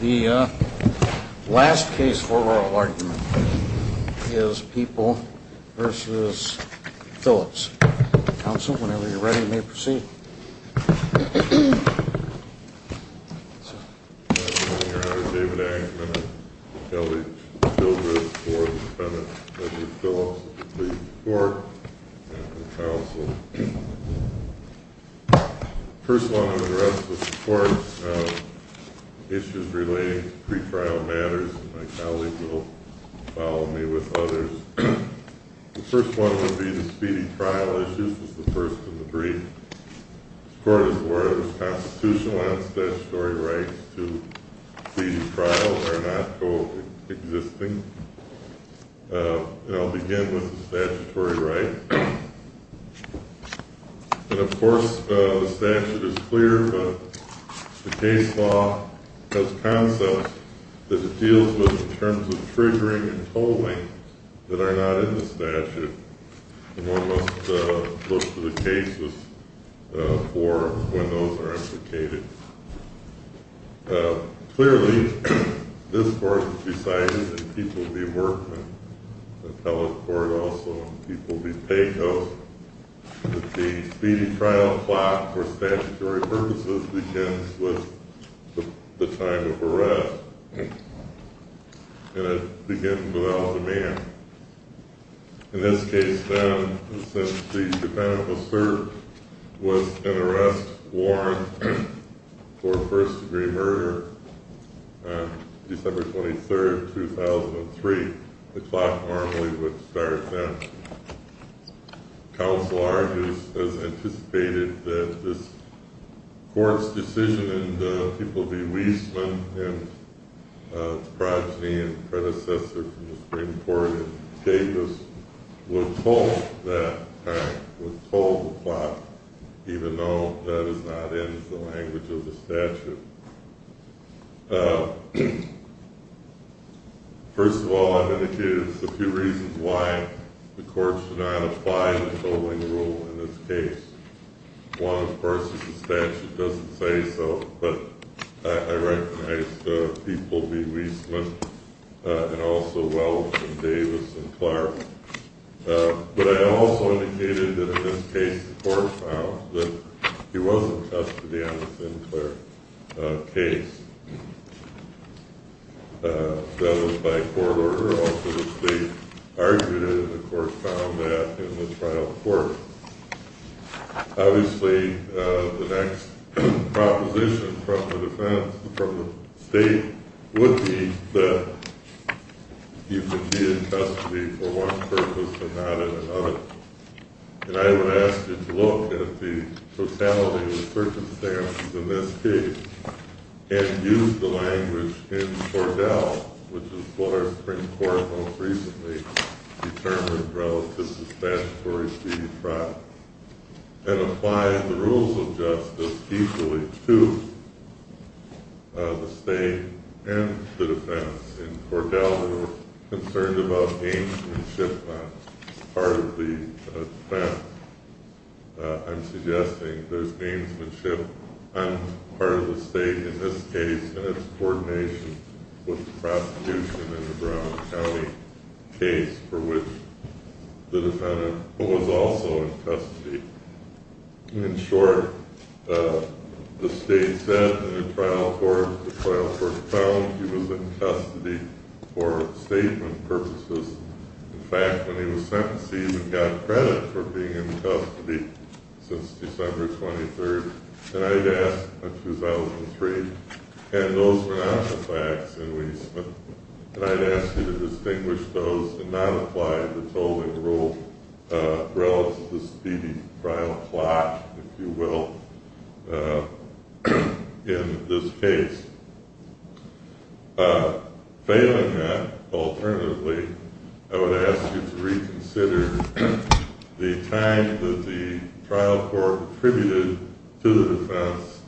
The last case for oral argument is People v. Phillips. Counsel, whenever you're ready, you may proceed. Your Honor, David Angman of L. H. Phillips Court of Defendant v. Phillips of the Pleasant Court and Counsel. The first one of the rest of the courts issues relating to pre-trial matters. My colleague will follow me with others. The first one would be the speeding trial issues. This is the first of the three. This court is awarded with constitutional and statutory rights to speed trial that are not co-existing. I'll begin with the statutory right. Of course, the statute is clear, but the case law has concepts that it deals with in terms of triggering and tolling that are not in the statute. One must look to the cases for when those are implicated. Clearly, this court has decided that People v. Workman, the appellate court also, and People v. Pecos, that the speeding trial plot for statutory purposes begins with the time of arrest, and it begins without a man. In this case, then, since the defendant was served with an arrest warrant for first-degree murder on December 23rd, 2003, the clock normally would start then. Counsel Argus has anticipated that this court's decision in the People v. Weisman, and its progeny and predecessor from the Supreme Court, Davis, would toll that time, would toll the clock, even though that does not end the language of the statute. First of all, I've indicated a few reasons why the court should not apply the tolling rule in this case. One, of course, is the statute doesn't say so, but I recognize People v. Weisman, and also Wells and Davis and Clark. But I also indicated that in this case, the court found that he was in custody on the Sinclair case. That was by court order. Also, the state argued it, and the court found that in the trial court. Obviously, the next proposition from the defense, from the state, would be that he would be in custody for one purpose and not another. And I would ask you to look at the totality of the circumstances in this case, and use the language in Cordell, which is what our Supreme Court most recently determined relative to statutory duty trial, and apply the rules of justice equally to the state and the defense. In Cordell, they were concerned about gamesmanship on part of the defense. I'm suggesting there's gamesmanship on part of the state in this case, and it's coordination with the prosecution in the Brown County case for which the defendant was also in custody. In short, the state said in the trial court, the trial court found he was in custody for statement purposes. In fact, when he was sentenced, he even got credit for being in custody since December 23rd, 2003. And those were not the facts. And I'd ask you to distinguish those and not apply the tolling rule relative to the speedy trial plot, if you will, in this case. Failing that, alternatively, I would ask you to reconsider the time that the trial court attributed to the defense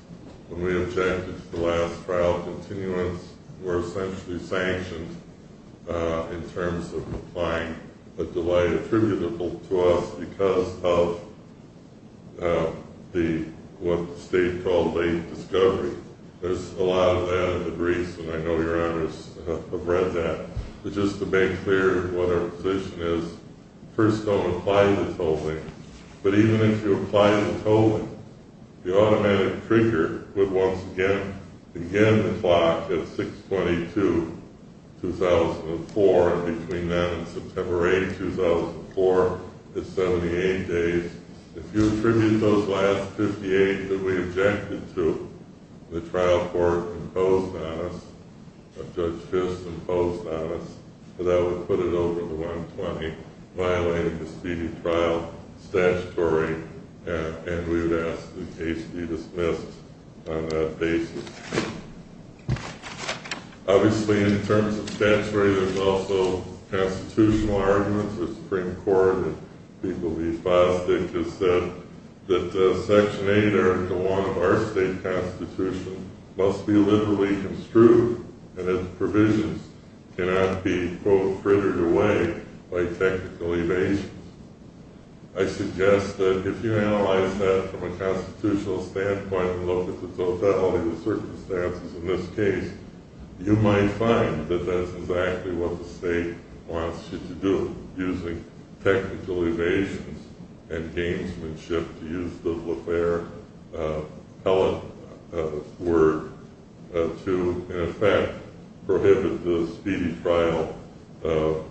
when we objected to the last trial continuance were essentially sanctioned in terms of applying a delay attributable to us because of what the state called late discovery. There's a lot of that in the briefs, and I know your honors have read that. It's just to make clear what our position is. First, don't apply the tolling. But even if you apply the tolling, the automatic trigger would once again begin the clock at 6-22-2004, and between then and September 8, 2004, is 78 days. If you attribute those last 58 that we objected to, the trial court imposed on us, Judge Fisk imposed on us, that would put it over the 120, violating the speedy trial statutory, and we would ask the case be dismissed on that basis. Obviously, in terms of statutory, there's also constitutional arguments. The Supreme Court, if people be fostered, just said that Section 8, or the one of our state constitution, must be liberally construed, and its provisions cannot be, quote, frittered away by technical evasions. I suggest that if you analyze that from a constitutional standpoint and look at the totality of the circumstances in this case, you might find that that's exactly what the state wants you to do, using technical evasions and gamesmanship, to use the la faire word to, in effect, prohibit the speedy trial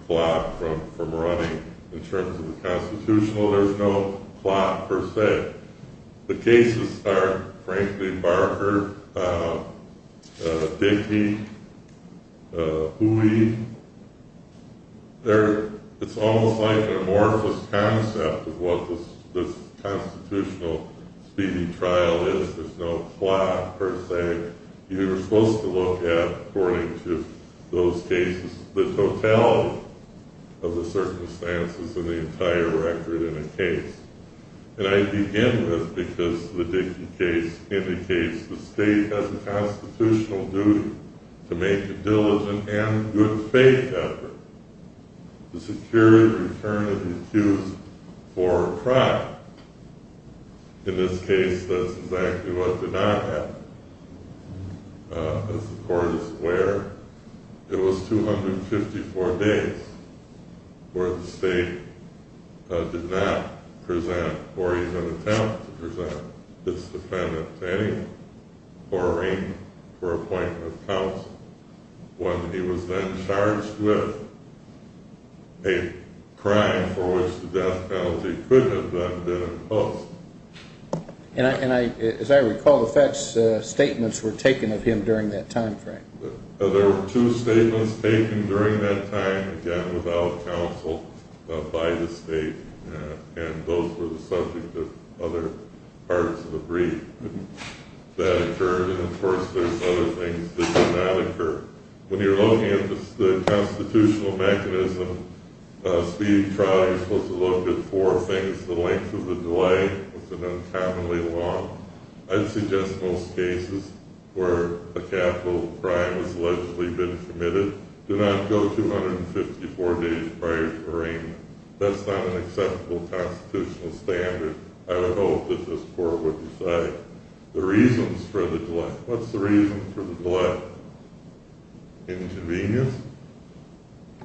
clock from running. In terms of the constitutional, there's no plot, per se. The cases are, frankly, Barker, Dickey, Hooley. It's almost like an amorphous concept of what this constitutional speedy trial is. There's no plot, per se. You're supposed to look at, according to those cases, the totality of the circumstances and the entire record in a case. And I begin with, because the Dickey case indicates the state has a constitutional duty to make a diligent and good faith effort to secure the return of the accused for a trial. In this case, that's exactly what did not happen. As the court is aware, it was 254 days where the state did not present, or even attempt to present, its defendant to any quarrying for appointment of counsel, when he was then charged with a crime for which the death penalty could have been imposed. And as I recall, the facts statements were taken of him during that time frame. There were two statements taken during that time, again, without counsel by the state. And those were the subject of other parts of the brief that occurred. And, of course, there's other things that did not occur. When you're looking at the constitutional mechanism of a speedy trial, you're supposed to look at four things. The length of the delay was an uncommonly long. I'd suggest most cases where a capital crime has allegedly been committed, do not go 254 days prior to arraignment. That's not an acceptable constitutional standard. I would hope that this court would decide. The reasons for the delay. What's the reason for the delay? Inconvenience?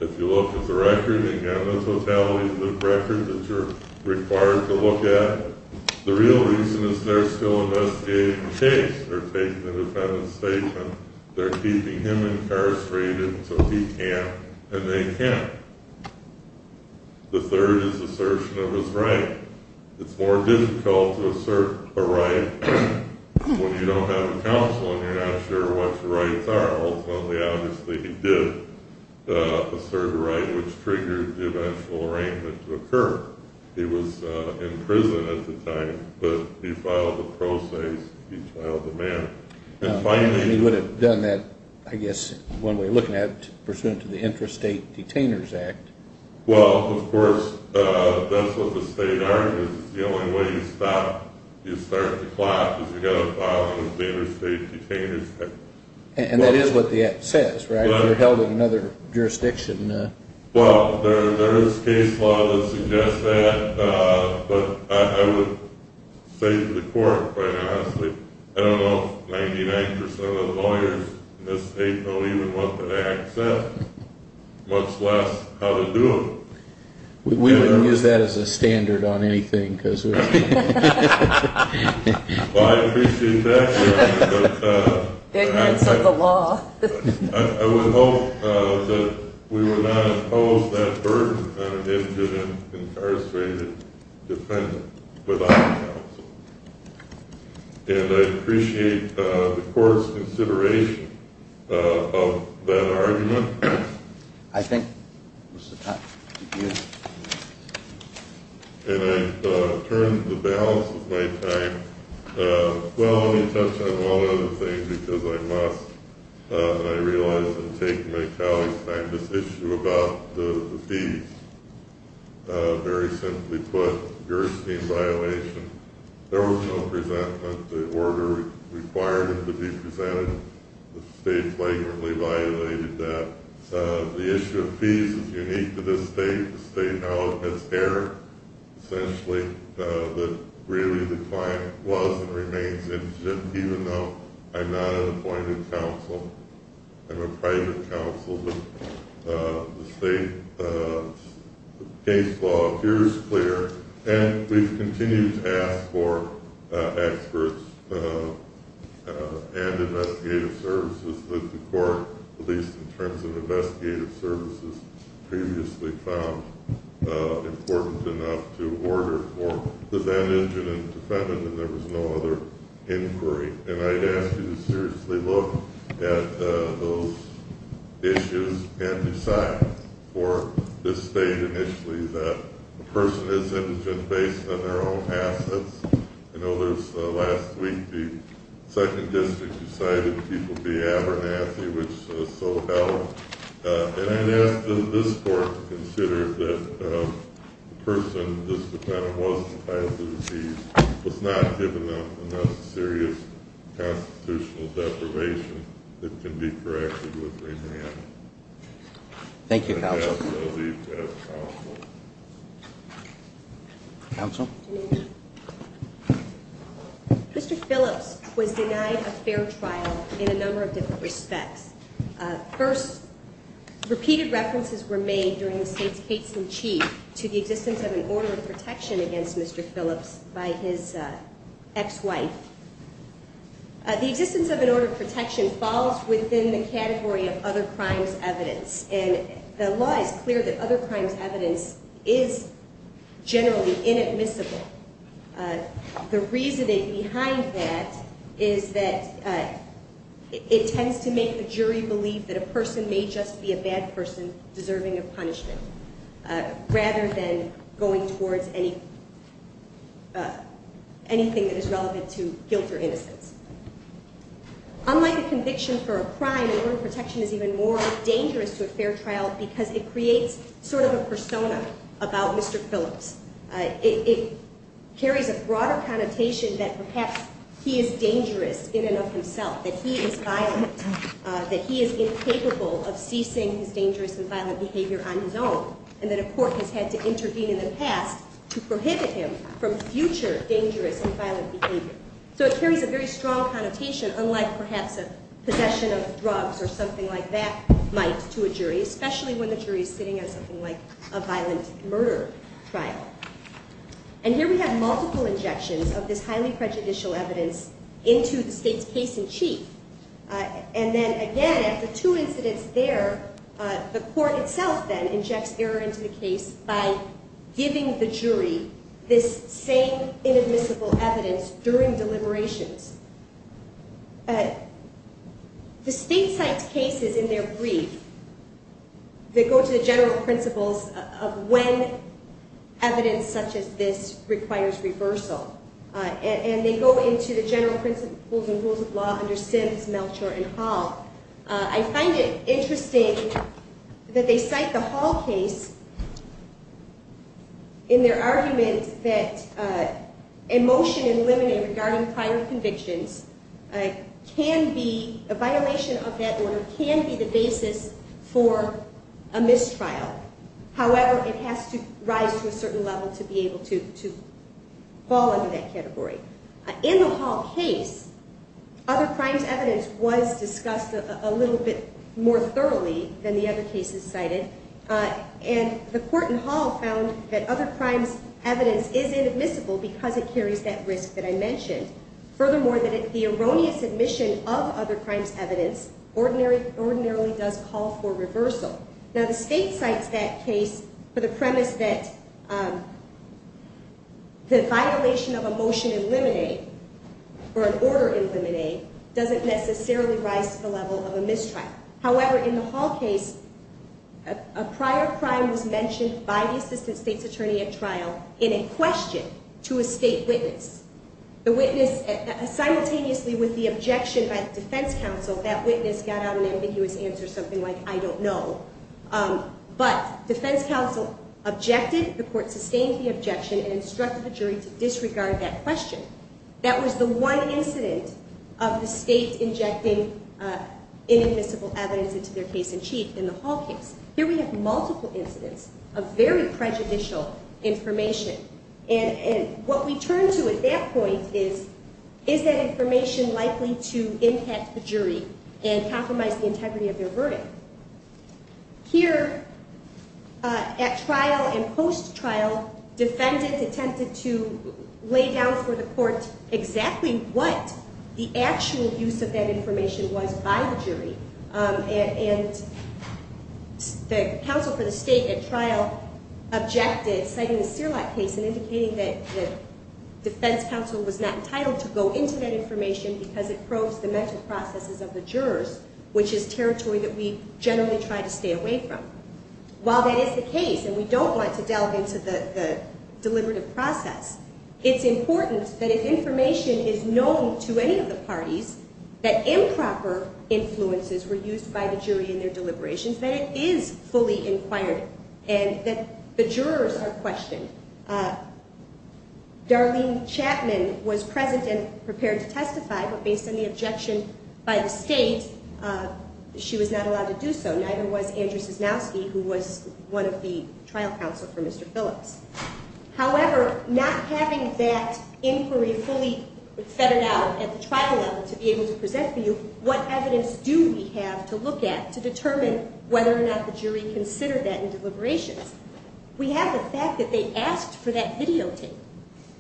If you look at the record, again, that's what validates the record that you're required to look at. The real reason is they're still investigating the case. They're taking the defendant's statement. They're keeping him incarcerated until he can and they can't. The third is assertion of his right. It's more difficult to assert a right when you don't have a counsel and you're not sure what your rights are. Ultimately, obviously, he did assert a right, which triggered the eventual arraignment to occur. He was in prison at the time, but he filed a process. He filed the man. He would have done that, I guess, one way of looking at it, pursuant to the Interstate Detainers Act. Well, of course, that's what the state argument is. The only way you start the clash is you've got to file the Interstate Detainers Act. And that is what the Act says, right? If you're held in another jurisdiction. Well, there is case law that suggests that, but I would say to the court, quite honestly, I don't know if 99% of the lawyers in this state know even what the Act says, much less how to do it. We wouldn't use that as a standard on anything. Well, I appreciate that, but I would hope that we would not impose that burden on an incarcerated defendant without counsel. And I appreciate the court's consideration of that argument. I think it was the time. And I've turned the balance of my time. Well, let me touch on one other thing, because I must. I realize I'm taking my colleagues' time. This issue about the fees, very simply put, a Gerstein violation. There was no presentment. The order required it to be presented. The state flagrantly violated that. The issue of fees is unique to this state. The state now has error, essentially, that really the client was and remains innocent, even though I'm not an appointed counsel. I'm a private counsel. But the state case law here is clear. And we've continued to ask for experts and investigative services. The court, at least in terms of investigative services, previously found important enough to order for the van engine and defendant, and there was no other inquiry. And I'd ask you to seriously look at those issues and decide for this state, initially, that a person is innocent based on their own assets. I know there was, last week, the 2nd District decided people be Abernathy, which is so held. And I'd ask this court to consider that the person, this defendant, was not given enough serious constitutional deprivation that can be corrected with remand. Thank you, counsel. And I ask that I leave as counsel. Counsel? Mr. Phillips was denied a fair trial in a number of different respects. First, repeated references were made during the state's case in chief to the existence of an order of protection against Mr. Phillips by his ex-wife. The existence of an order of protection falls within the category of other crimes evidence. And the law is clear that other crimes evidence is generally inadmissible. The reasoning behind that is that it tends to make the jury believe that a person may just be a bad person deserving of punishment, rather than going towards anything that is relevant to guilt or innocence. Unlike a conviction for a crime, an order of protection is even more dangerous to a fair trial because it creates sort of a persona about Mr. Phillips. It carries a broader connotation that perhaps he is dangerous in and of himself, that he is violent, that he is incapable of ceasing his dangerous and violent behavior on his own, and that a court has had to intervene in the past to prohibit him from future dangerous and violent behavior. So it carries a very strong connotation, unlike perhaps a possession of drugs or something like that might to a jury, especially when the jury is sitting at something like a violent murder trial. And here we have multiple injections of this highly prejudicial evidence into the state's case in chief. And then again, after two incidents there, the court itself then injects error into the case by giving the jury this same inadmissible evidence during deliberations. The state cites cases in their brief that go to the general principles of when evidence such as this requires reversal. And they go into the general principles and rules of law under Sims, Melchor, and Hall. I find it interesting that they cite the Hall case in their argument that a motion in limine regarding prior convictions can be, a violation of that order can be the basis for a mistrial. However, it has to rise to a certain level to be able to fall under that category. In the Hall case, other crimes evidence was discussed a little bit more thoroughly than the other cases cited. And the court in Hall found that other crimes evidence is inadmissible because it carries that risk that I mentioned. Furthermore, the erroneous admission of other crimes evidence ordinarily does call for reversal. Now, the state cites that case for the premise that the violation of a motion in limine or an order in limine doesn't necessarily rise to the level of a mistrial. However, in the Hall case, a prior crime was mentioned by the assistant state's attorney at trial in a question to a state witness. The witness simultaneously with the objection by the defense counsel, that witness got out an ambiguous answer, something like, I don't know. But defense counsel objected, the court sustained the objection and instructed the jury to disregard that question. That was the one incident of the state injecting inadmissible evidence into their case in chief in the Hall case. Here we have multiple incidents of very prejudicial information. And what we turn to at that point is, is that information likely to impact the jury and compromise the integrity of their verdict? Here at trial and post-trial, defendants attempted to lay down for the court exactly what the actual use of that information was by the jury. And the counsel for the state at trial objected, citing the Serlak case and indicating that the defense counsel was not entitled to go into that information because it probes the mental processes of the jurors, which is territory that we generally try to stay away from. While that is the case, and we don't want to delve into the deliberative process, it's important that if information is known to any of the parties that improper influences were used by the jury in their deliberations, that it is fully inquired and that the jurors are questioned. Darlene Chapman was present and prepared to testify, but based on the objection by the state, she was not allowed to do so. Neither was Andrew Cisnowski, who was one of the trial counsel for Mr. Phillips. However, not having that inquiry fully fettered out at the trial level to be able to present for you, what evidence do we have to look at to determine whether or not the jury considered that in deliberations? We have the fact that they asked for that videotape.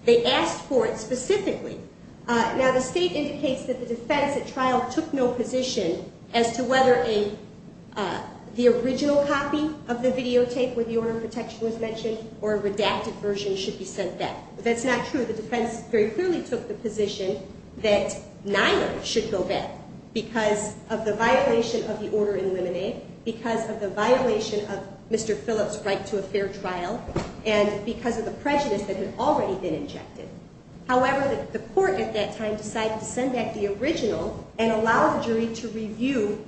They asked for it specifically. Now, the state indicates that the defense at trial took no position as to whether the original copy of the videotape, where the order of protection was mentioned, or a redacted version should be sent back. That's not true. The defense very clearly took the position that neither should go back because of the violation of the order in Lemonade, because of the violation of Mr. Phillips' right to a fair trial, and because of the prejudice that had already been injected. However, the court at that time decided to send back the original and allow the jury to review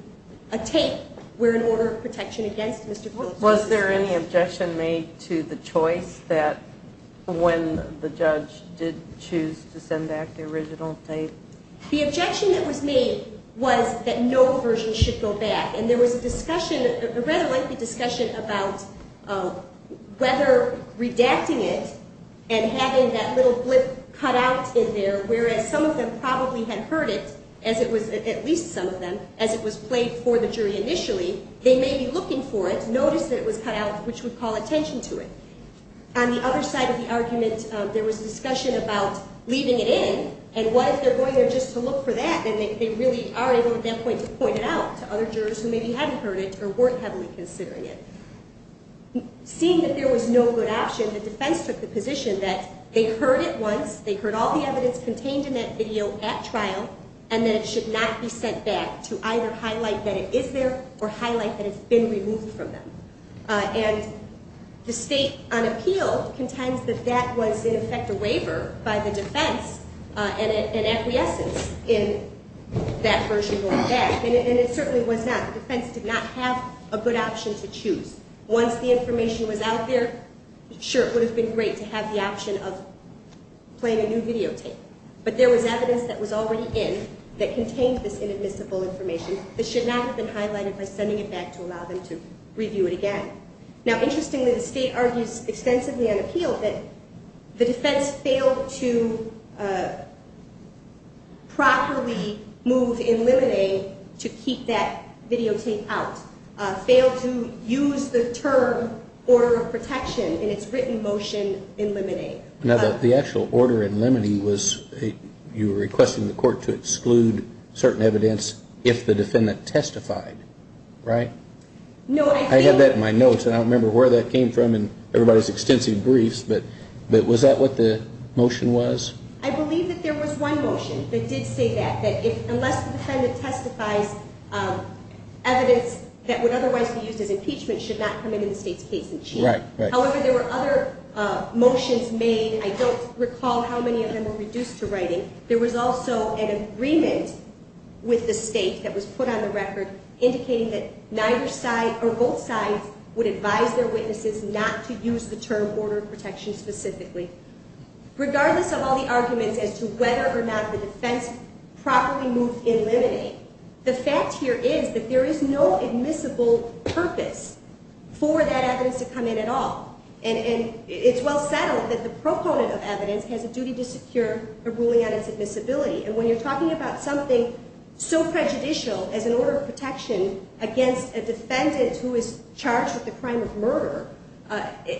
a tape where an order of protection against Mr. Phillips was used. Was there any objection made to the choice that when the judge did choose to send back the original tape? The objection that was made was that no version should go back, and there was a rather lengthy discussion about whether redacting it and having that little blip cut out in there, whereas some of them probably had heard it, at least some of them, as it was played for the jury initially. They may be looking for it, notice that it was cut out, which would call attention to it. On the other side of the argument, there was discussion about leaving it in, and what if they're going there just to look for that, and they really are able at that point to point it out to other jurors who maybe hadn't heard it or weren't heavily considering it. Seeing that there was no good option, the defense took the position that they heard it once, they heard all the evidence contained in that video at trial, and that it should not be sent back to either highlight that it is there or highlight that it's been removed from them. And the state on appeal contends that that was, in effect, a waiver by the defense, an acquiescence in that version going back, and it certainly was not. The defense did not have a good option to choose. Once the information was out there, sure, it would have been great to have the option of playing a new videotape, but there was evidence that was already in that contained this inadmissible information. It should not have been highlighted by sending it back to allow them to review it again. Now, interestingly, the state argues extensively on appeal that the defense failed to properly move in limine to keep that videotape out, failed to use the term order of protection in its written motion in limine. Now, the actual order in limine was you were requesting the court to exclude certain evidence if the defendant testified, right? I had that in my notes, and I don't remember where that came from in everybody's extensive briefs, but was that what the motion was? I believe that there was one motion that did say that, that unless the defendant testifies, evidence that would otherwise be used as impeachment should not come into the state's case in chief. However, there were other motions made. I don't recall how many of them were reduced to writing. There was also an agreement with the state that was put on the record indicating that neither side or both sides would advise their witnesses not to use the term order of protection specifically. Regardless of all the arguments as to whether or not the defense properly moved in limine, the fact here is that there is no admissible purpose for that evidence to come in at all. And it's well settled that the proponent of evidence has a duty to secure a ruling on its admissibility. And when you're talking about something so prejudicial as an order of protection against a defendant who is charged with a crime of murder,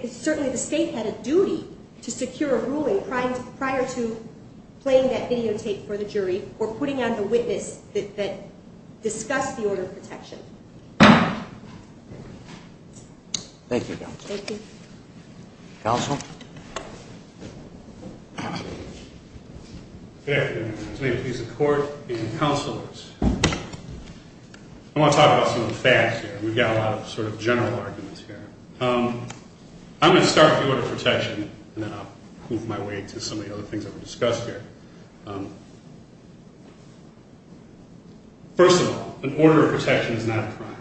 certainly the state had a duty to secure a ruling prior to playing that videotape for the jury or putting on the witness that discussed the order of protection. Thank you. Counsel? Good afternoon. May it please the court and counselors. I want to talk about some of the facts here. We've got a lot of sort of general arguments here. I'm going to start with the order of protection and then I'll move my way to some of the other things that were discussed here. First of all, an order of protection is not a crime.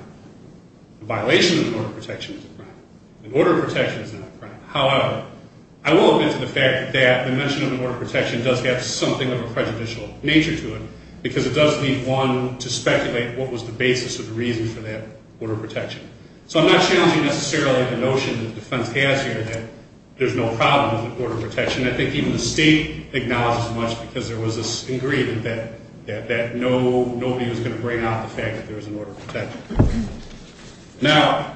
The violation of an order of protection is a crime. An order of protection is not a crime. However, I will admit to the fact that the mention of an order of protection does have something of a prejudicial nature to it because it does leave one to speculate what was the basis or the reason for that order of protection. So I'm not challenging necessarily the notion that the defense has here that there's no problem with an order of protection. I think even the state acknowledges much because there was this agreement that nobody was going to bring out the fact that there was an order of protection. Now,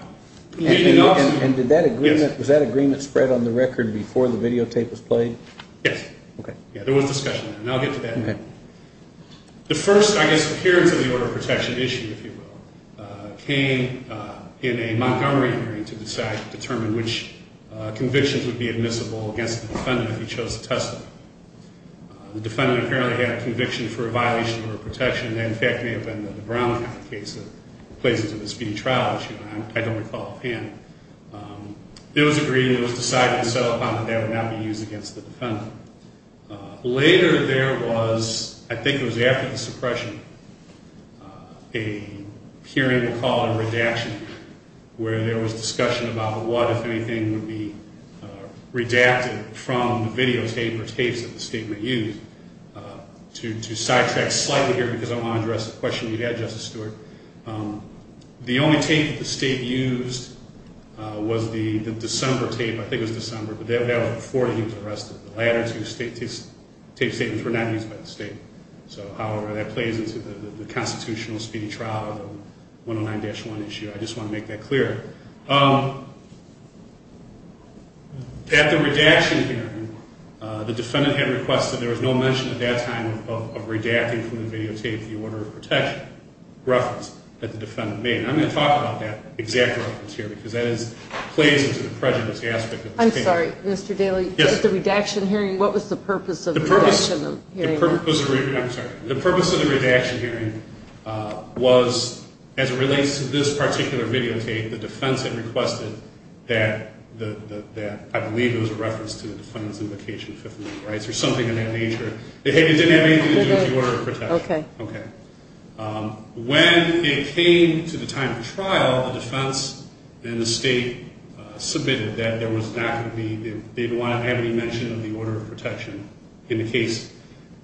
leading off – And did that agreement – Yes. Was that agreement spread on the record before the videotape was played? Yes. Okay. Yeah, there was discussion there and I'll get to that. Okay. The first, I guess, appearance of the order of protection issue, if you will, came in a Montgomery hearing to decide to determine which convictions would be admissible against the defendant if he chose to testify. The defendant apparently had a conviction for a violation of an order of protection that in fact may have been the Brown Act case that plays into the speedy trial issue. I don't recall offhand. It was agreed and it was decided and set upon that that would not be used against the defendant. Later there was, I think it was after the suppression, a hearing, we'll call it a redaction, where there was discussion about what, if anything, would be redacted from the videotape or tapes that the state may use. To sidetrack slightly here because I want to address the question you had, Justice Stewart, the only tape that the state used was the December tape. I think it was December, but that was before he was arrested. The latter two tape statements were not used by the state. So, however, that plays into the constitutional speedy trial of the 109-1 issue. I just want to make that clear. At the redaction hearing, the defendant had requested, there was no mention at that time of redacting from the videotape the order of protection reference that the defendant made. I'm going to talk about that exact reference here because that plays into the prejudice aspect of this case. I'm sorry, Mr. Daley. Yes. At the redaction hearing, what was the purpose of the redaction hearing? The purpose of the redaction hearing was, as it relates to this particular videotape, the defense had requested that, I believe it was a reference to the defendant's invocation Fifth Amendment rights or something of that nature. It didn't have anything to do with the order of protection. Okay. When it came to the time of trial, the defense and the state submitted that there was not going to be, they didn't want to have any mention of the order of protection in the case.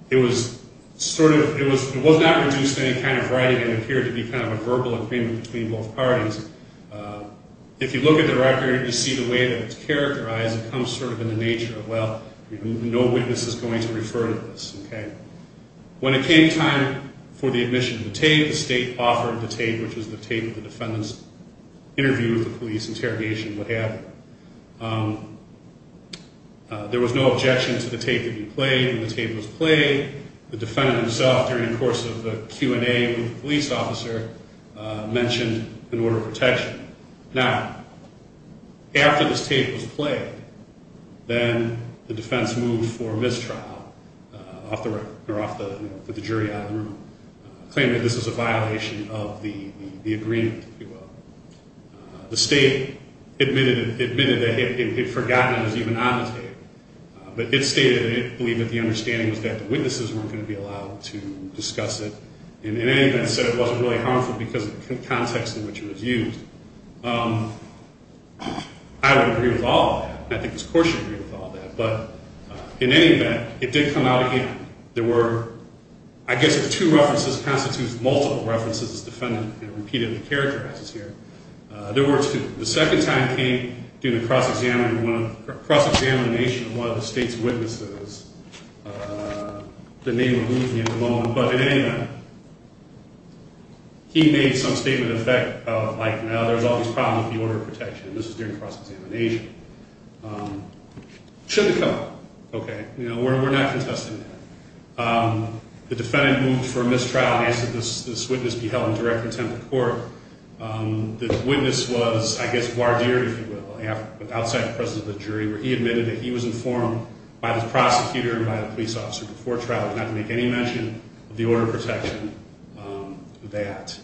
It was sort of, it was not reduced to any kind of writing and appeared to be kind of a verbal agreement between both parties. If you look at the record, you see the way that it's characterized. It comes sort of in the nature of, well, no witness is going to refer to this. Okay. When it came time for the admission of the tape, the state offered the tape, which was the tape the defendant's interview with the police interrogation would have. There was no objection to the tape being played, and the tape was played. The defendant himself, during the course of the Q&A with the police officer, mentioned an order of protection. Now, after this tape was played, then the defense moved for mistrial, or put the jury out of the room, claiming that this was a violation of the agreement, if you will. The state admitted that it had forgotten it was even on the tape, but it stated that it believed that the understanding was that the witnesses weren't going to be allowed to discuss it, and in any event said it wasn't really harmful because of the context in which it was used. I would agree with all of that, and I think Ms. Korsh agreed with all of that, but in any event, it did come out again. There were, I guess if two references constitute multiple references, as the defendant repeatedly characterizes here, there were two. The second time came during the cross-examination of one of the state's witnesses. The name removed me at the moment, but in any event, he made some statement in effect of, like, no, there's all these problems with the order of protection, and this was during the cross-examination. Shouldn't have come up. Okay. You know, we're not contesting that. The defendant moved for mistrial and asked that this witness be held in direct contempt of court. The witness was, I guess, voir dire, if you will, outside the presence of the jury, where he admitted that he was informed by the prosecutor and by the police officer before trial not to make any mention of the order of protection, that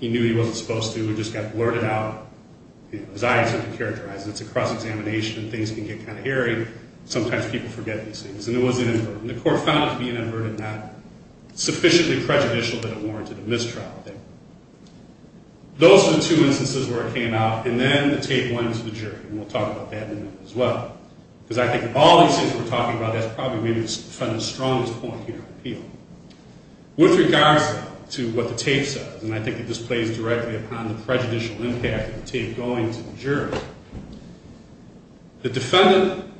he knew he wasn't supposed to. It just got blurted out. As I said to characterize it, it's a cross-examination. Things can get kind of hairy. Sometimes people forget these things, and it was inadvertent. The court found it to be inadvertent, not sufficiently prejudicial that it warranted a mistrial. Those are the two instances where it came out, and then the tape went into the jury, and we'll talk about that in a minute as well, because I think of all these things we're talking about, that's probably maybe the defendant's strongest point here at the appeal. With regards to what the tape says, and I think it displays directly upon the prejudicial impact of the tape going to the jury, the defendant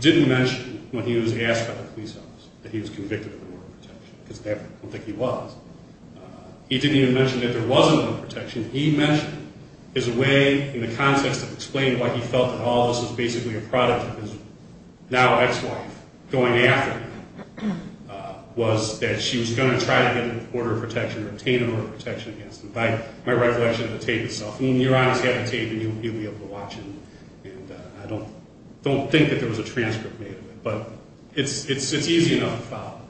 didn't mention when he was asked by the police officer that he was convicted of the order of protection, because I don't think he was. He didn't even mention that there wasn't one protection. He mentioned his way, in the context of explaining why he felt that all of this was basically a product of his now ex-wife going after him, was that she was going to try to get an order of protection, retain an order of protection against him, by my recollection of the tape itself. When you're on this type of tape, you'll be able to watch it, and I don't think that there was a transcript made of it, but it's easy enough to follow.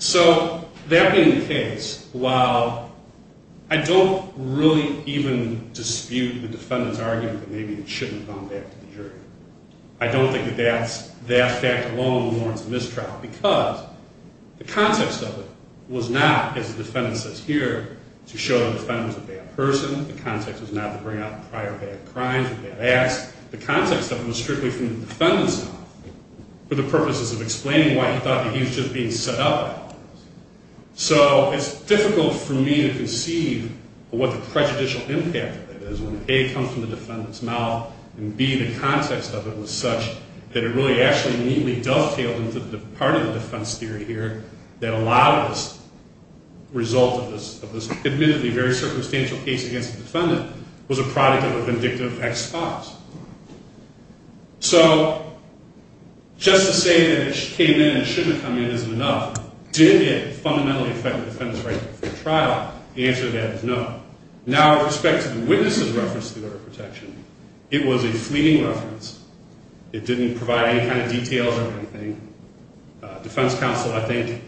So that being the case, while I don't really even dispute the defendant's argument that maybe it shouldn't have gone back to the jury, I don't think that that fact alone warrants a mistrial, because the context of it was not, as the defendant says here, to show the defendant was a bad person. The context was not to bring out prior bad crimes or bad acts. The context of it was strictly from the defendant's mouth, for the purposes of explaining why he thought that he was just being set up. So it's difficult for me to conceive of what the prejudicial impact of it is, when A, it comes from the defendant's mouth, and B, the context of it was such that it really actually neatly dovetailed into the part of the defense theory here that a lot of this result of this admittedly very circumstantial case against the defendant was a product of a vindictive ex-spouse. So just to say that it came in and shouldn't have come in isn't enough. Did it fundamentally affect the defendant's right to the trial? The answer to that is no. Now, with respect to the witness's reference to the order of protection, it was a fleeting reference. It didn't provide any kind of details or anything. Defense counsel, I think,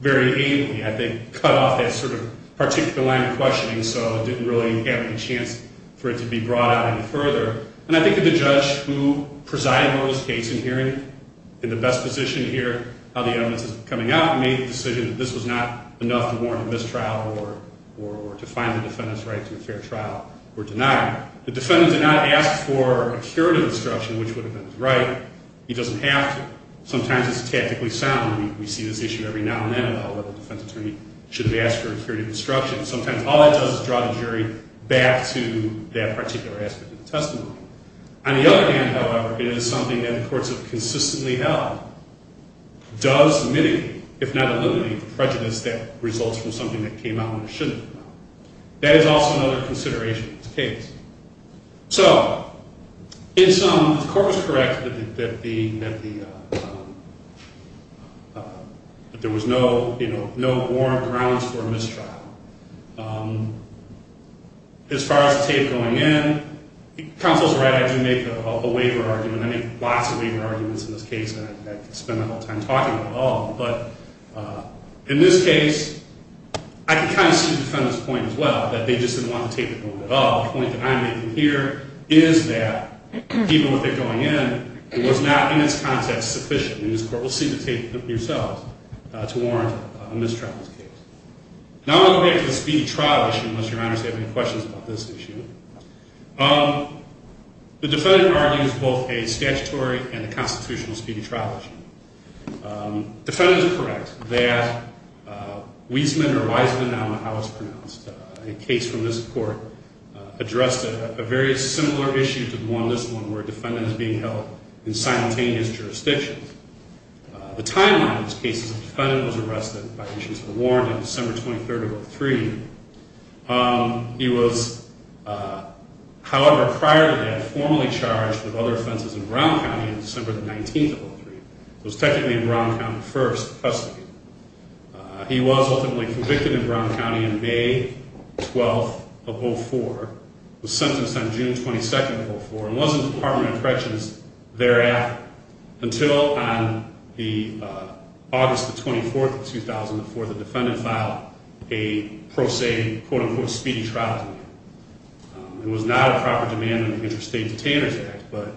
very ably, I think, cut off that sort of particular line of questioning, so didn't really have any chance for it to be brought out any further. And I think that the judge who presided over this case in hearing, in the best position here, how the evidence is coming out, made the decision that this was not enough to warrant a mistrial or to find the defendant's right to a fair trial were denied. The defendant did not ask for a curative instruction, which would have been his right. He doesn't have to. Sometimes it's tactically sound. We see this issue every now and then about whether a defense attorney should have asked for a curative instruction. Sometimes all it does is draw the jury back to that particular aspect of the testimony. On the other hand, however, it is something that the courts have consistently held does mitigate, if not eliminate, the prejudice that results from something that came out when it shouldn't have come out. That is also another consideration of this case. So in sum, the court was correct that there was no warrant grounds for a mistrial. As far as the tape going in, counsel is right. I do make a waiver argument. I make lots of waiver arguments in this case, and I could spend the whole time talking about it all. But in this case, I could kind of see the defendant's point as well, that they just didn't want to tape it a little bit up. The point that I'm making here is that even with it going in, it was not, in its context, sufficient. And this court will see the tape themselves to warrant a mistrial in this case. Now I'm going to go back to the speedy trial issue, unless Your Honors have any questions about this issue. The defendant argues both a statutory and a constitutional speedy trial issue. The defendant is correct that Weisman or Weisman, I don't know how it's pronounced, a case from this court addressed a very similar issue to this one, where a defendant is being held in simultaneous jurisdictions. The timeline of this case is the defendant was arrested by issues of a warrant on December 23rd of 2003. He was, however, prior to that, formally charged with other offenses in Brown County on December 19th of 2003. It was technically in Brown County first. He was ultimately convicted in Brown County on May 12th of 2004, was sentenced on June 22nd of 2004, and was in the Department of Corrections thereafter, until on August 24th of 2004, the defendant filed a pro se, quote unquote, speedy trial. It was not a proper demand in the Interstate Detainers Act, but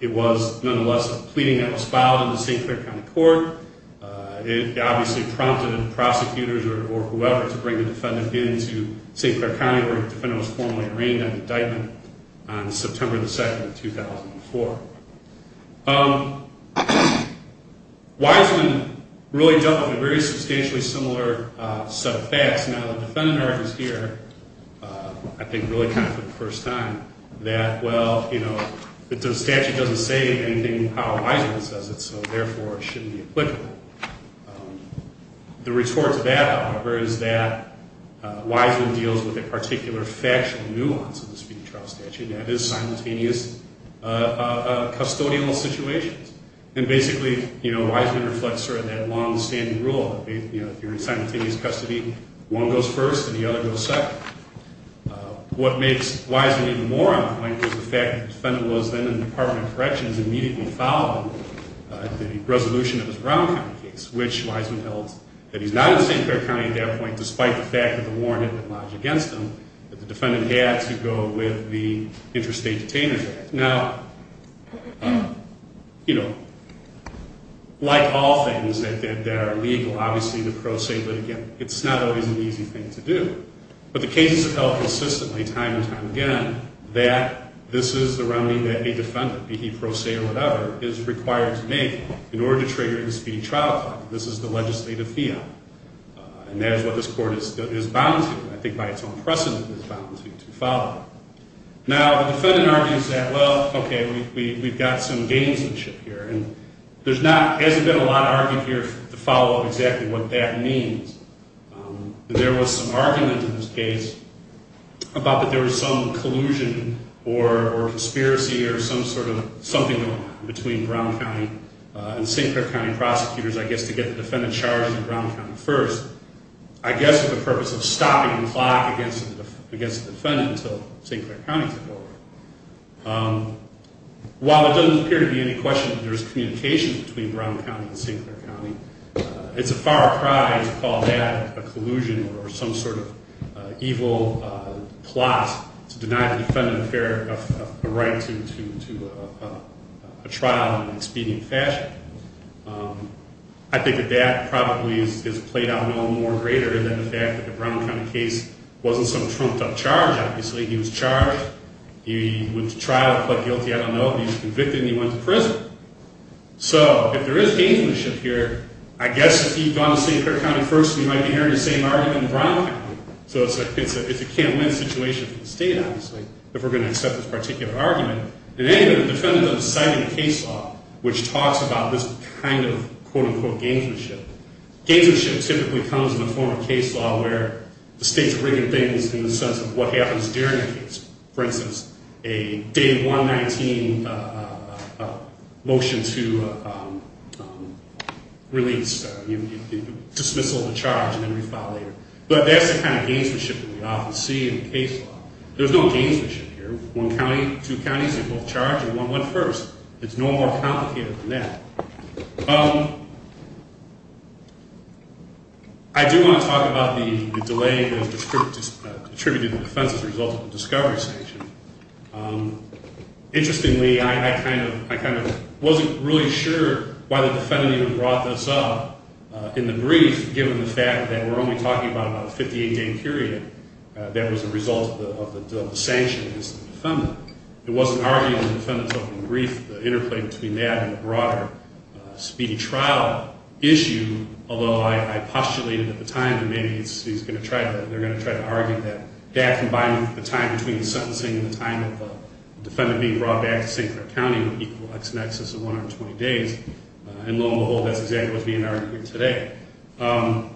it was nonetheless a pleading that was filed in the St. Clair County Court. It obviously prompted prosecutors or whoever to bring the defendant into St. Clair County where the defendant was formally arraigned on indictment on September 2nd of 2004. Weisman really dealt with a very substantially similar set of facts. Now, the defendant argues here, I think really kind of for the first time, that, well, you know, the statute doesn't say anything about how Weisman says it, so therefore it shouldn't be applicable. The retort to that, however, is that Weisman deals with a particular factual nuance of the speedy trial statute, and that is simultaneous custodial situations. And basically, you know, Weisman reflects sort of that longstanding rule, you know, if you're in simultaneous custody, one goes first and the other goes second. What makes Weisman even more on point is the fact that the defendant was then in the Department of Corrections immediately following the resolution of his Brown County case, which Weisman held that he's not in St. Clair County at that point, despite the fact that the warrant had been lodged against him, that the defendant had to go with the Interstate Detainers Act. Now, you know, like all things that are legal, obviously the pros say, but again, it's not always an easy thing to do. But the cases have held consistently, time and time again, that this is the remedy that a defendant, be he pro se or whatever, is required to make in order to trigger a speedy trial. This is the legislative field, and that is what this Court is bound to, I think by its own precedent, is bound to follow. Now, the defendant argues that, well, okay, we've got some gamesmanship here, and there hasn't been a lot of argument here to follow up exactly what that means. There was some argument in this case about that there was some collusion or conspiracy or some sort of something going on between Brown County and St. Clair County prosecutors, I guess, to get the defendant charged in Brown County first, I guess for the purpose of stopping the clock against the defendant until St. Clair County took over. While it doesn't appear to be any question that there is communication between Brown County and St. Clair County, it's a far cry to call that a collusion or some sort of evil plot to deny the defendant a right to a trial in an expedient fashion. I think that that probably is played out no more greater than the fact that the Brown County case wasn't some trumped-up charge, obviously, he was charged, he went to trial, pled guilty, I don't know, he was convicted, and he went to prison. So, if there is gamesmanship here, I guess if he'd gone to St. Clair County first, he might be hearing the same argument in Brown County. So it's a can't-win situation for the state, obviously, if we're going to accept this particular argument. In any event, the defendant doesn't cite any case law which talks about this kind of quote-unquote gamesmanship. Gamesmanship typically comes in the form of case law where the state's rigging things in the sense of what happens during a case. For instance, a Day 119 motion to release, dismissal of the charge and then refile later. But that's the kind of gamesmanship that we often see in case law. There's no gamesmanship here. One county, two counties, they both charge and one went first. It's no more complicated than that. I do want to talk about the delay that was attributed to the defense as a result of the discovery sanction. Interestingly, I kind of wasn't really sure why the defendant even brought this up in the brief, given the fact that we're only talking about a 58-day period that was a result of the sanction against the defendant. It wasn't argued in the defendant's opening brief, the interplay between that and the broader speedy trial issue, although I postulated at the time that maybe they're going to try to argue that that, combined with the time between the sentencing and the time of the defendant being brought back to St. Clair County would equal x-maxes of 120 days. And lo and behold, that's exactly what's being argued today. All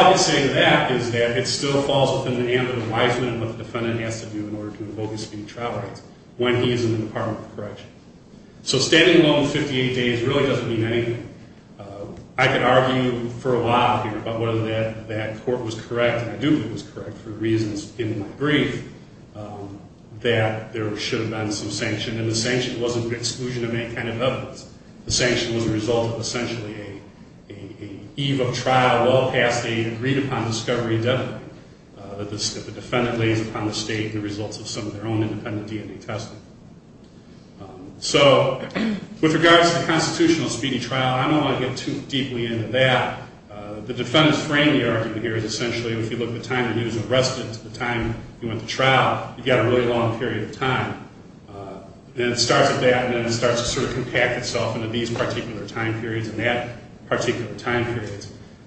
I can say to that is that it still falls within the ambit of wisdom and what the defendant has to do in order to invoke the speedy trial rights when he is in the Department of Correction. So standing alone with 58 days really doesn't mean anything. I could argue for a while here about whether that court was correct, and I do think it was correct, for reasons in my brief that there should have been some sanction, and the sanction wasn't an exclusion of any kind of evidence. The sanction was a result of essentially an eve of trial well past a agreed-upon discovery deadline that the defendant lays upon the state the results of some of their own independent DNA testing. So with regards to the constitutional speedy trial, I don't want to get too deeply into that. The defendant's frame of the argument here is essentially if you look at the time he was arrested to the time he went to trial, you've got a really long period of time. Then it starts at that, and then it starts to sort of compact itself into these particular time periods and that particular time period.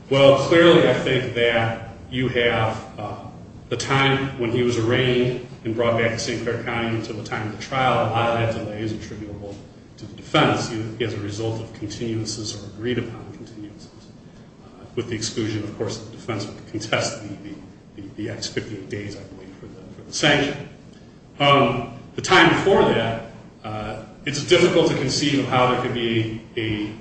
Well, clearly I think that you have the time when he was arraigned and brought back to St. Clair County until the time of the trial. A lot of that delay is attributable to the defense. It's a result of continuances or agreed-upon continuances with the exclusion, of course, that the defense would contest the ex-58 days, I believe, for the sanction. The time before that, it's difficult to conceive of how there could be a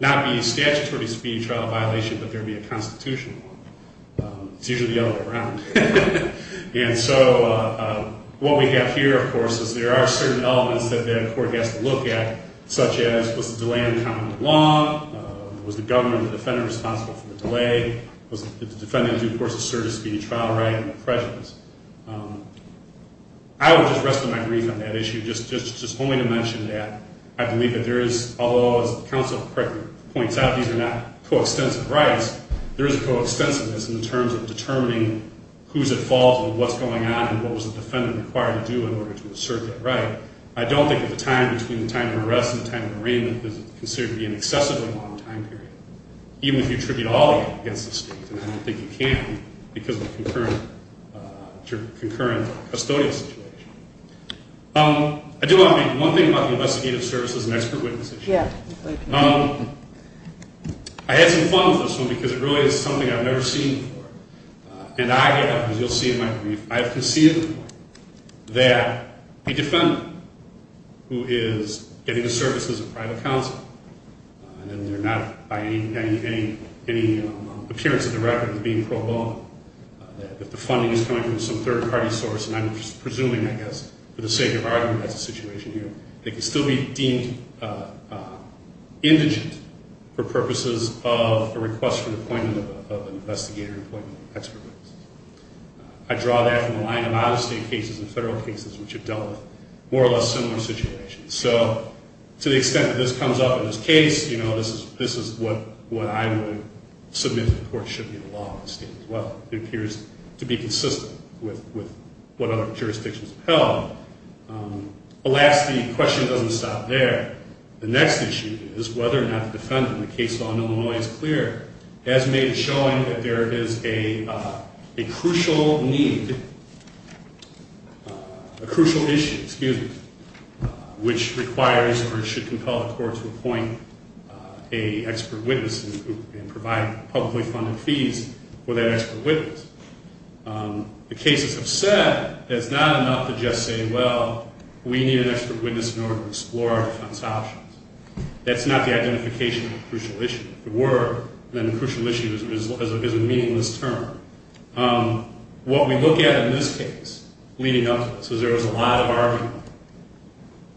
not be a statutory speedy trial violation, but there be a constitutional one. It's usually the other way around. And so what we have here, of course, is there are certain elements that the court has to look at, such as was the delay uncommon to the law? Was the government or the defendant responsible for the delay? Was the defendant in due course asserted speedy trial right under pressures? I would just rest my grief on that issue, just only to mention that I believe that there is, although as the counsel correctly points out, these are not coextensive rights, there is a coextensiveness in terms of determining who's at fault and what's going on and what was the defendant required to do in order to assert that right. I don't think that the time between the time of arrest and the time of arraignment is considered to be an excessively long time period, even if you attribute all of it against the state. And I don't think you can because of the concurrent custodial situation. I do want to make one thing about the investigative services and expert witnesses issue. I had some fun with this one because it really is something I've never seen before. And I have, as you'll see in my brief, I have conceded that the defendant who is getting the services of private counsel, and they're not by any appearance of the record being pro bono, that the funding is coming from some third-party source, and I'm presuming, I guess, for the sake of argument, that's the situation here, they can still be deemed indigent for purposes of a request for the appointment of an investigator and appointment of an expert witness. I draw that from a line of out-of-state cases and federal cases which have dealt with more or less similar situations. So to the extent that this comes up in this case, you know, this is what I would submit to the court should be the law of the state as well. It appears to be consistent with what other jurisdictions have held. Alas, the question doesn't stop there. The next issue is whether or not the defendant, in the case of Illinois is clear, has made it showing that there is a crucial need, a crucial issue, excuse me, which requires or should compel the court to appoint an expert witness and provide publicly funded fees for that expert witness. The cases have said that it's not enough to just say, well, we need an expert witness in order to explore our defense options. That's not the identification of a crucial issue. If it were, then a crucial issue is a meaningless term. What we look at in this case, leading up to this, is there was a lot of argument,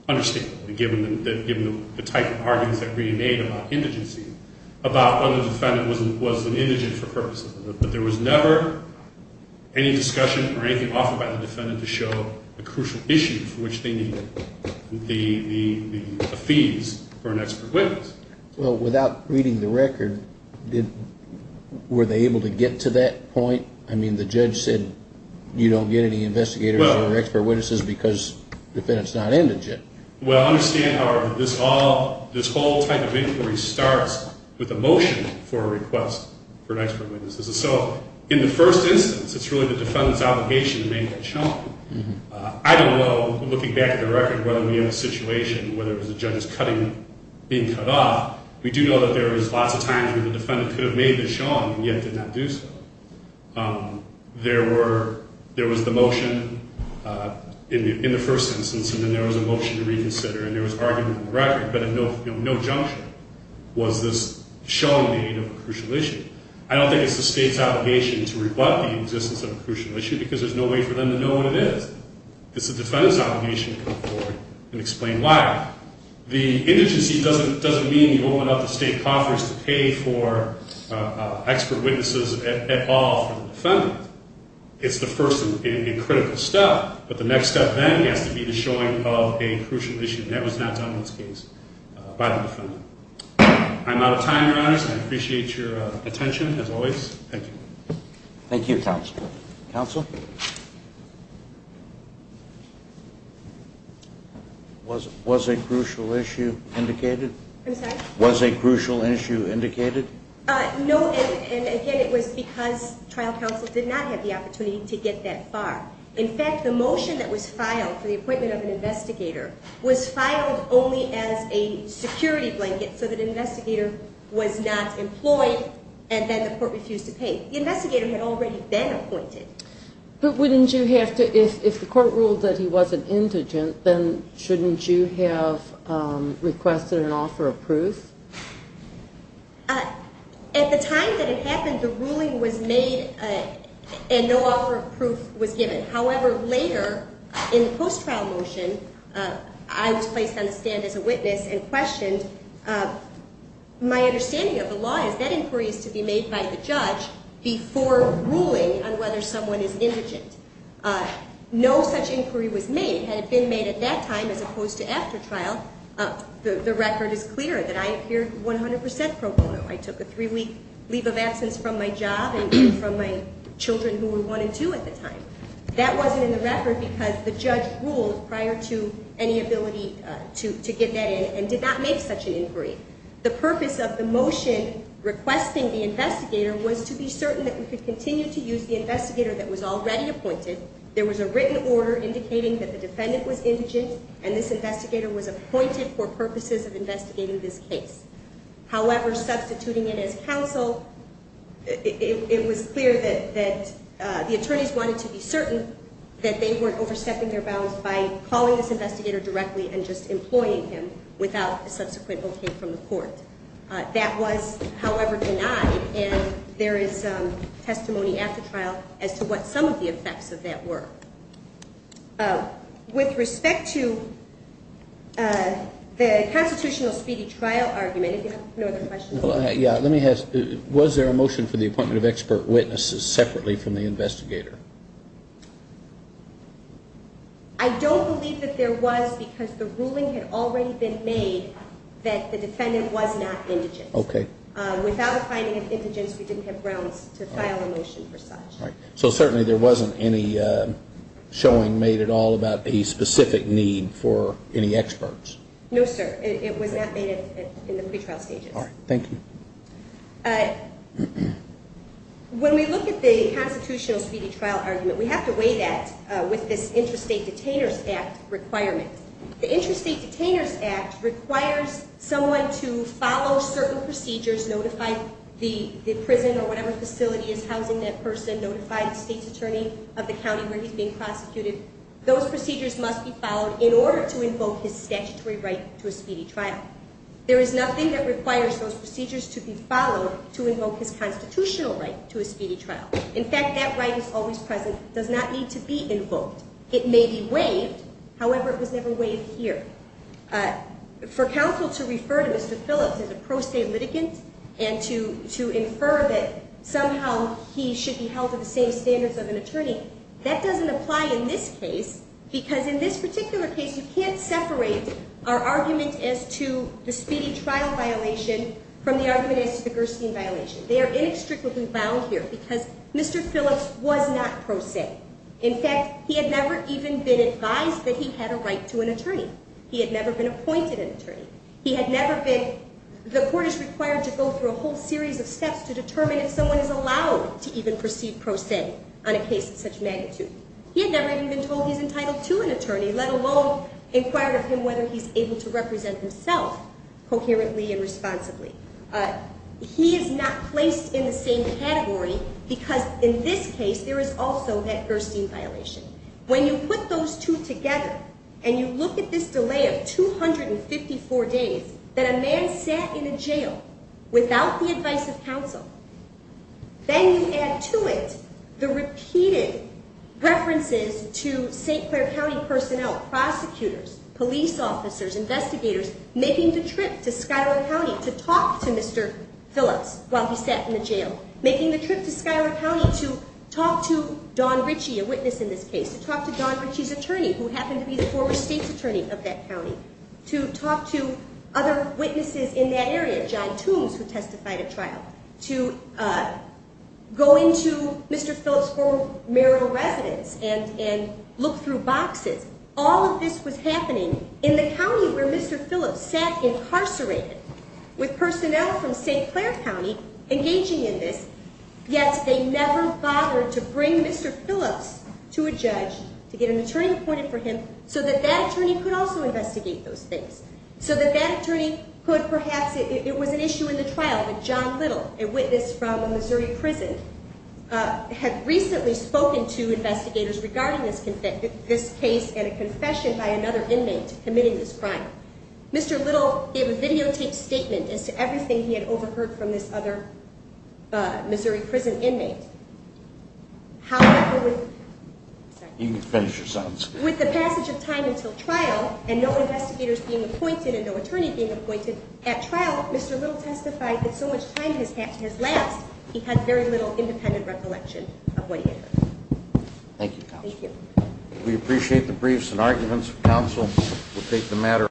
understandably given the type of arguments that we made about indigency, about whether the defendant was an indigent for purposes of it. But there was never any discussion or anything offered by the defendant to show a crucial issue for which they needed the fees for an expert witness. Well, without reading the record, were they able to get to that point? I mean, the judge said you don't get any investigators or expert witnesses because the defendant's not indigent. Well, I understand, however, this whole type of inquiry starts with a motion for a request for an expert witness. So in the first instance, it's really the defendant's obligation to make it show. I don't know, looking back at the record, whether we have a situation where there was a judge's cutting being cut off, we do know that there was lots of times where the defendant could have made this shown and yet did not do so. There was the motion in the first instance, and then there was a motion to reconsider, and there was argument in the record, but at no junction was this showing the aid of a crucial issue. I don't think it's the state's obligation to rebut the existence of a crucial issue because there's no way for them to know what it is. It's the defendant's obligation to come forward and explain why. The indigency doesn't mean you open up the state coffers to pay for expert witnesses at all for the defendant. It's the first and critical step, but the next step then has to be the showing of a crucial issue, and that was not done in this case by the defendant. I'm out of time, Your Honors. I appreciate your attention, as always. Thank you. Thank you, counsel. Counsel? Was a crucial issue indicated? I'm sorry? Was a crucial issue indicated? No, and again, it was because trial counsel did not have the opportunity to get that far. In fact, the motion that was filed for the appointment of an investigator was filed only as a security blanket so that an investigator was not employed and then the court refused to pay. The investigator had already been appointed. But wouldn't you have to, if the court ruled that he was an indigent, then shouldn't you have requested an offer of proof? At the time that it happened, the ruling was made and no offer of proof was given. However, later in the post-trial motion, I was placed on the stand as a witness and questioned. My understanding of the law is that inquiry is to be made by the judge before ruling on whether someone is indigent. No such inquiry was made. Had it been made at that time as opposed to after trial, the record is clear that I appeared 100% pro bono. I took a three-week leave of absence from my job and from my children who were one and two at the time. That wasn't in the record because the judge ruled prior to any ability to get that in and did not make such an inquiry. The purpose of the motion requesting the investigator was to be certain that we could continue to use the investigator that was already appointed. There was a written order indicating that the defendant was indigent and this investigator was appointed for purposes of investigating this case. However, substituting it as counsel, it was clear that the attorneys wanted to be certain that they weren't overstepping their bounds by calling this investigator directly and just employing him without a subsequent okay from the court. That was, however, denied, and there is testimony after trial as to what some of the effects of that were. With respect to the constitutional speedy trial argument, if you have no other questions. Let me ask, was there a motion for the appointment of expert witnesses separately from the investigator? I don't believe that there was because the ruling had already been made that the defendant was not indigent. Okay. Without a finding of indigence, we didn't have grounds to file a motion for such. Right. So certainly there wasn't any showing made at all about a specific need for any experts. No, sir. It was not made in the pretrial stages. All right. Thank you. When we look at the constitutional speedy trial argument, we have to weigh that with this Interstate Detainers Act requirement. The Interstate Detainers Act requires someone to follow certain procedures, notify the prison or whatever facility is housing that person, notify the state's attorney of the county where he's being prosecuted. Those procedures must be followed in order to invoke his statutory right to a speedy trial. There is nothing that requires those procedures to be followed to invoke his constitutional right to a speedy trial. In fact, that right is always present. It does not need to be invoked. It may be waived. However, it was never waived here. For counsel to refer to Mr. Phillips as a pro se litigant and to infer that somehow he should be held to the same standards of an attorney, that doesn't apply in this case because in this particular case, you can't separate our argument as to the speedy trial violation from the argument as to the Gerstein violation. They are inextricably bound here because Mr. Phillips was not pro se. In fact, he had never even been advised that he had a right to an attorney. He had never been appointed an attorney. The court is required to go through a whole series of steps to determine if someone is allowed to even perceive pro se on a case of such magnitude. He had never even been told he's entitled to an attorney, let alone inquire of him whether he's able to represent himself coherently and responsibly. He is not placed in the same category because in this case, there is also that Gerstein violation. When you put those two together and you look at this delay of 254 days that a man sat in a jail without the advice of counsel, then you add to it the repeated references to St. Clair County personnel, prosecutors, police officers, investigators, making the trip to Schuyler County to talk to Mr. Phillips while he sat in the jail, making the trip to Schuyler County to talk to Don Ritchie, a witness in this case, to talk to Don Ritchie's attorney, who happened to be the former state's attorney of that county, to talk to other witnesses in that area, Jai Toomes, who testified at trial, to go into Mr. Phillips' former marital residence and look through boxes. All of this was happening in the county where Mr. Phillips sat incarcerated with personnel from St. Clair County engaging in this, yet they never bothered to bring Mr. Phillips to a judge to get an attorney appointed for him so that that attorney could also investigate those things, so that that attorney could perhaps, it was an issue in the trial, but John Little, a witness from a Missouri prison, had recently spoken to investigators regarding this case and a confession by another inmate committing this crime. Mr. Little gave a videotaped statement as to everything he had overheard from this other Missouri prison inmate. However, with the passage of time until trial and no investigators being appointed and no attorney being appointed at trial, Mr. Little testified that so much time has lapsed, he had very little independent recollection of what he had heard. Thank you, Counsel. Thank you. We appreciate the briefs and arguments. Counsel will take the matter.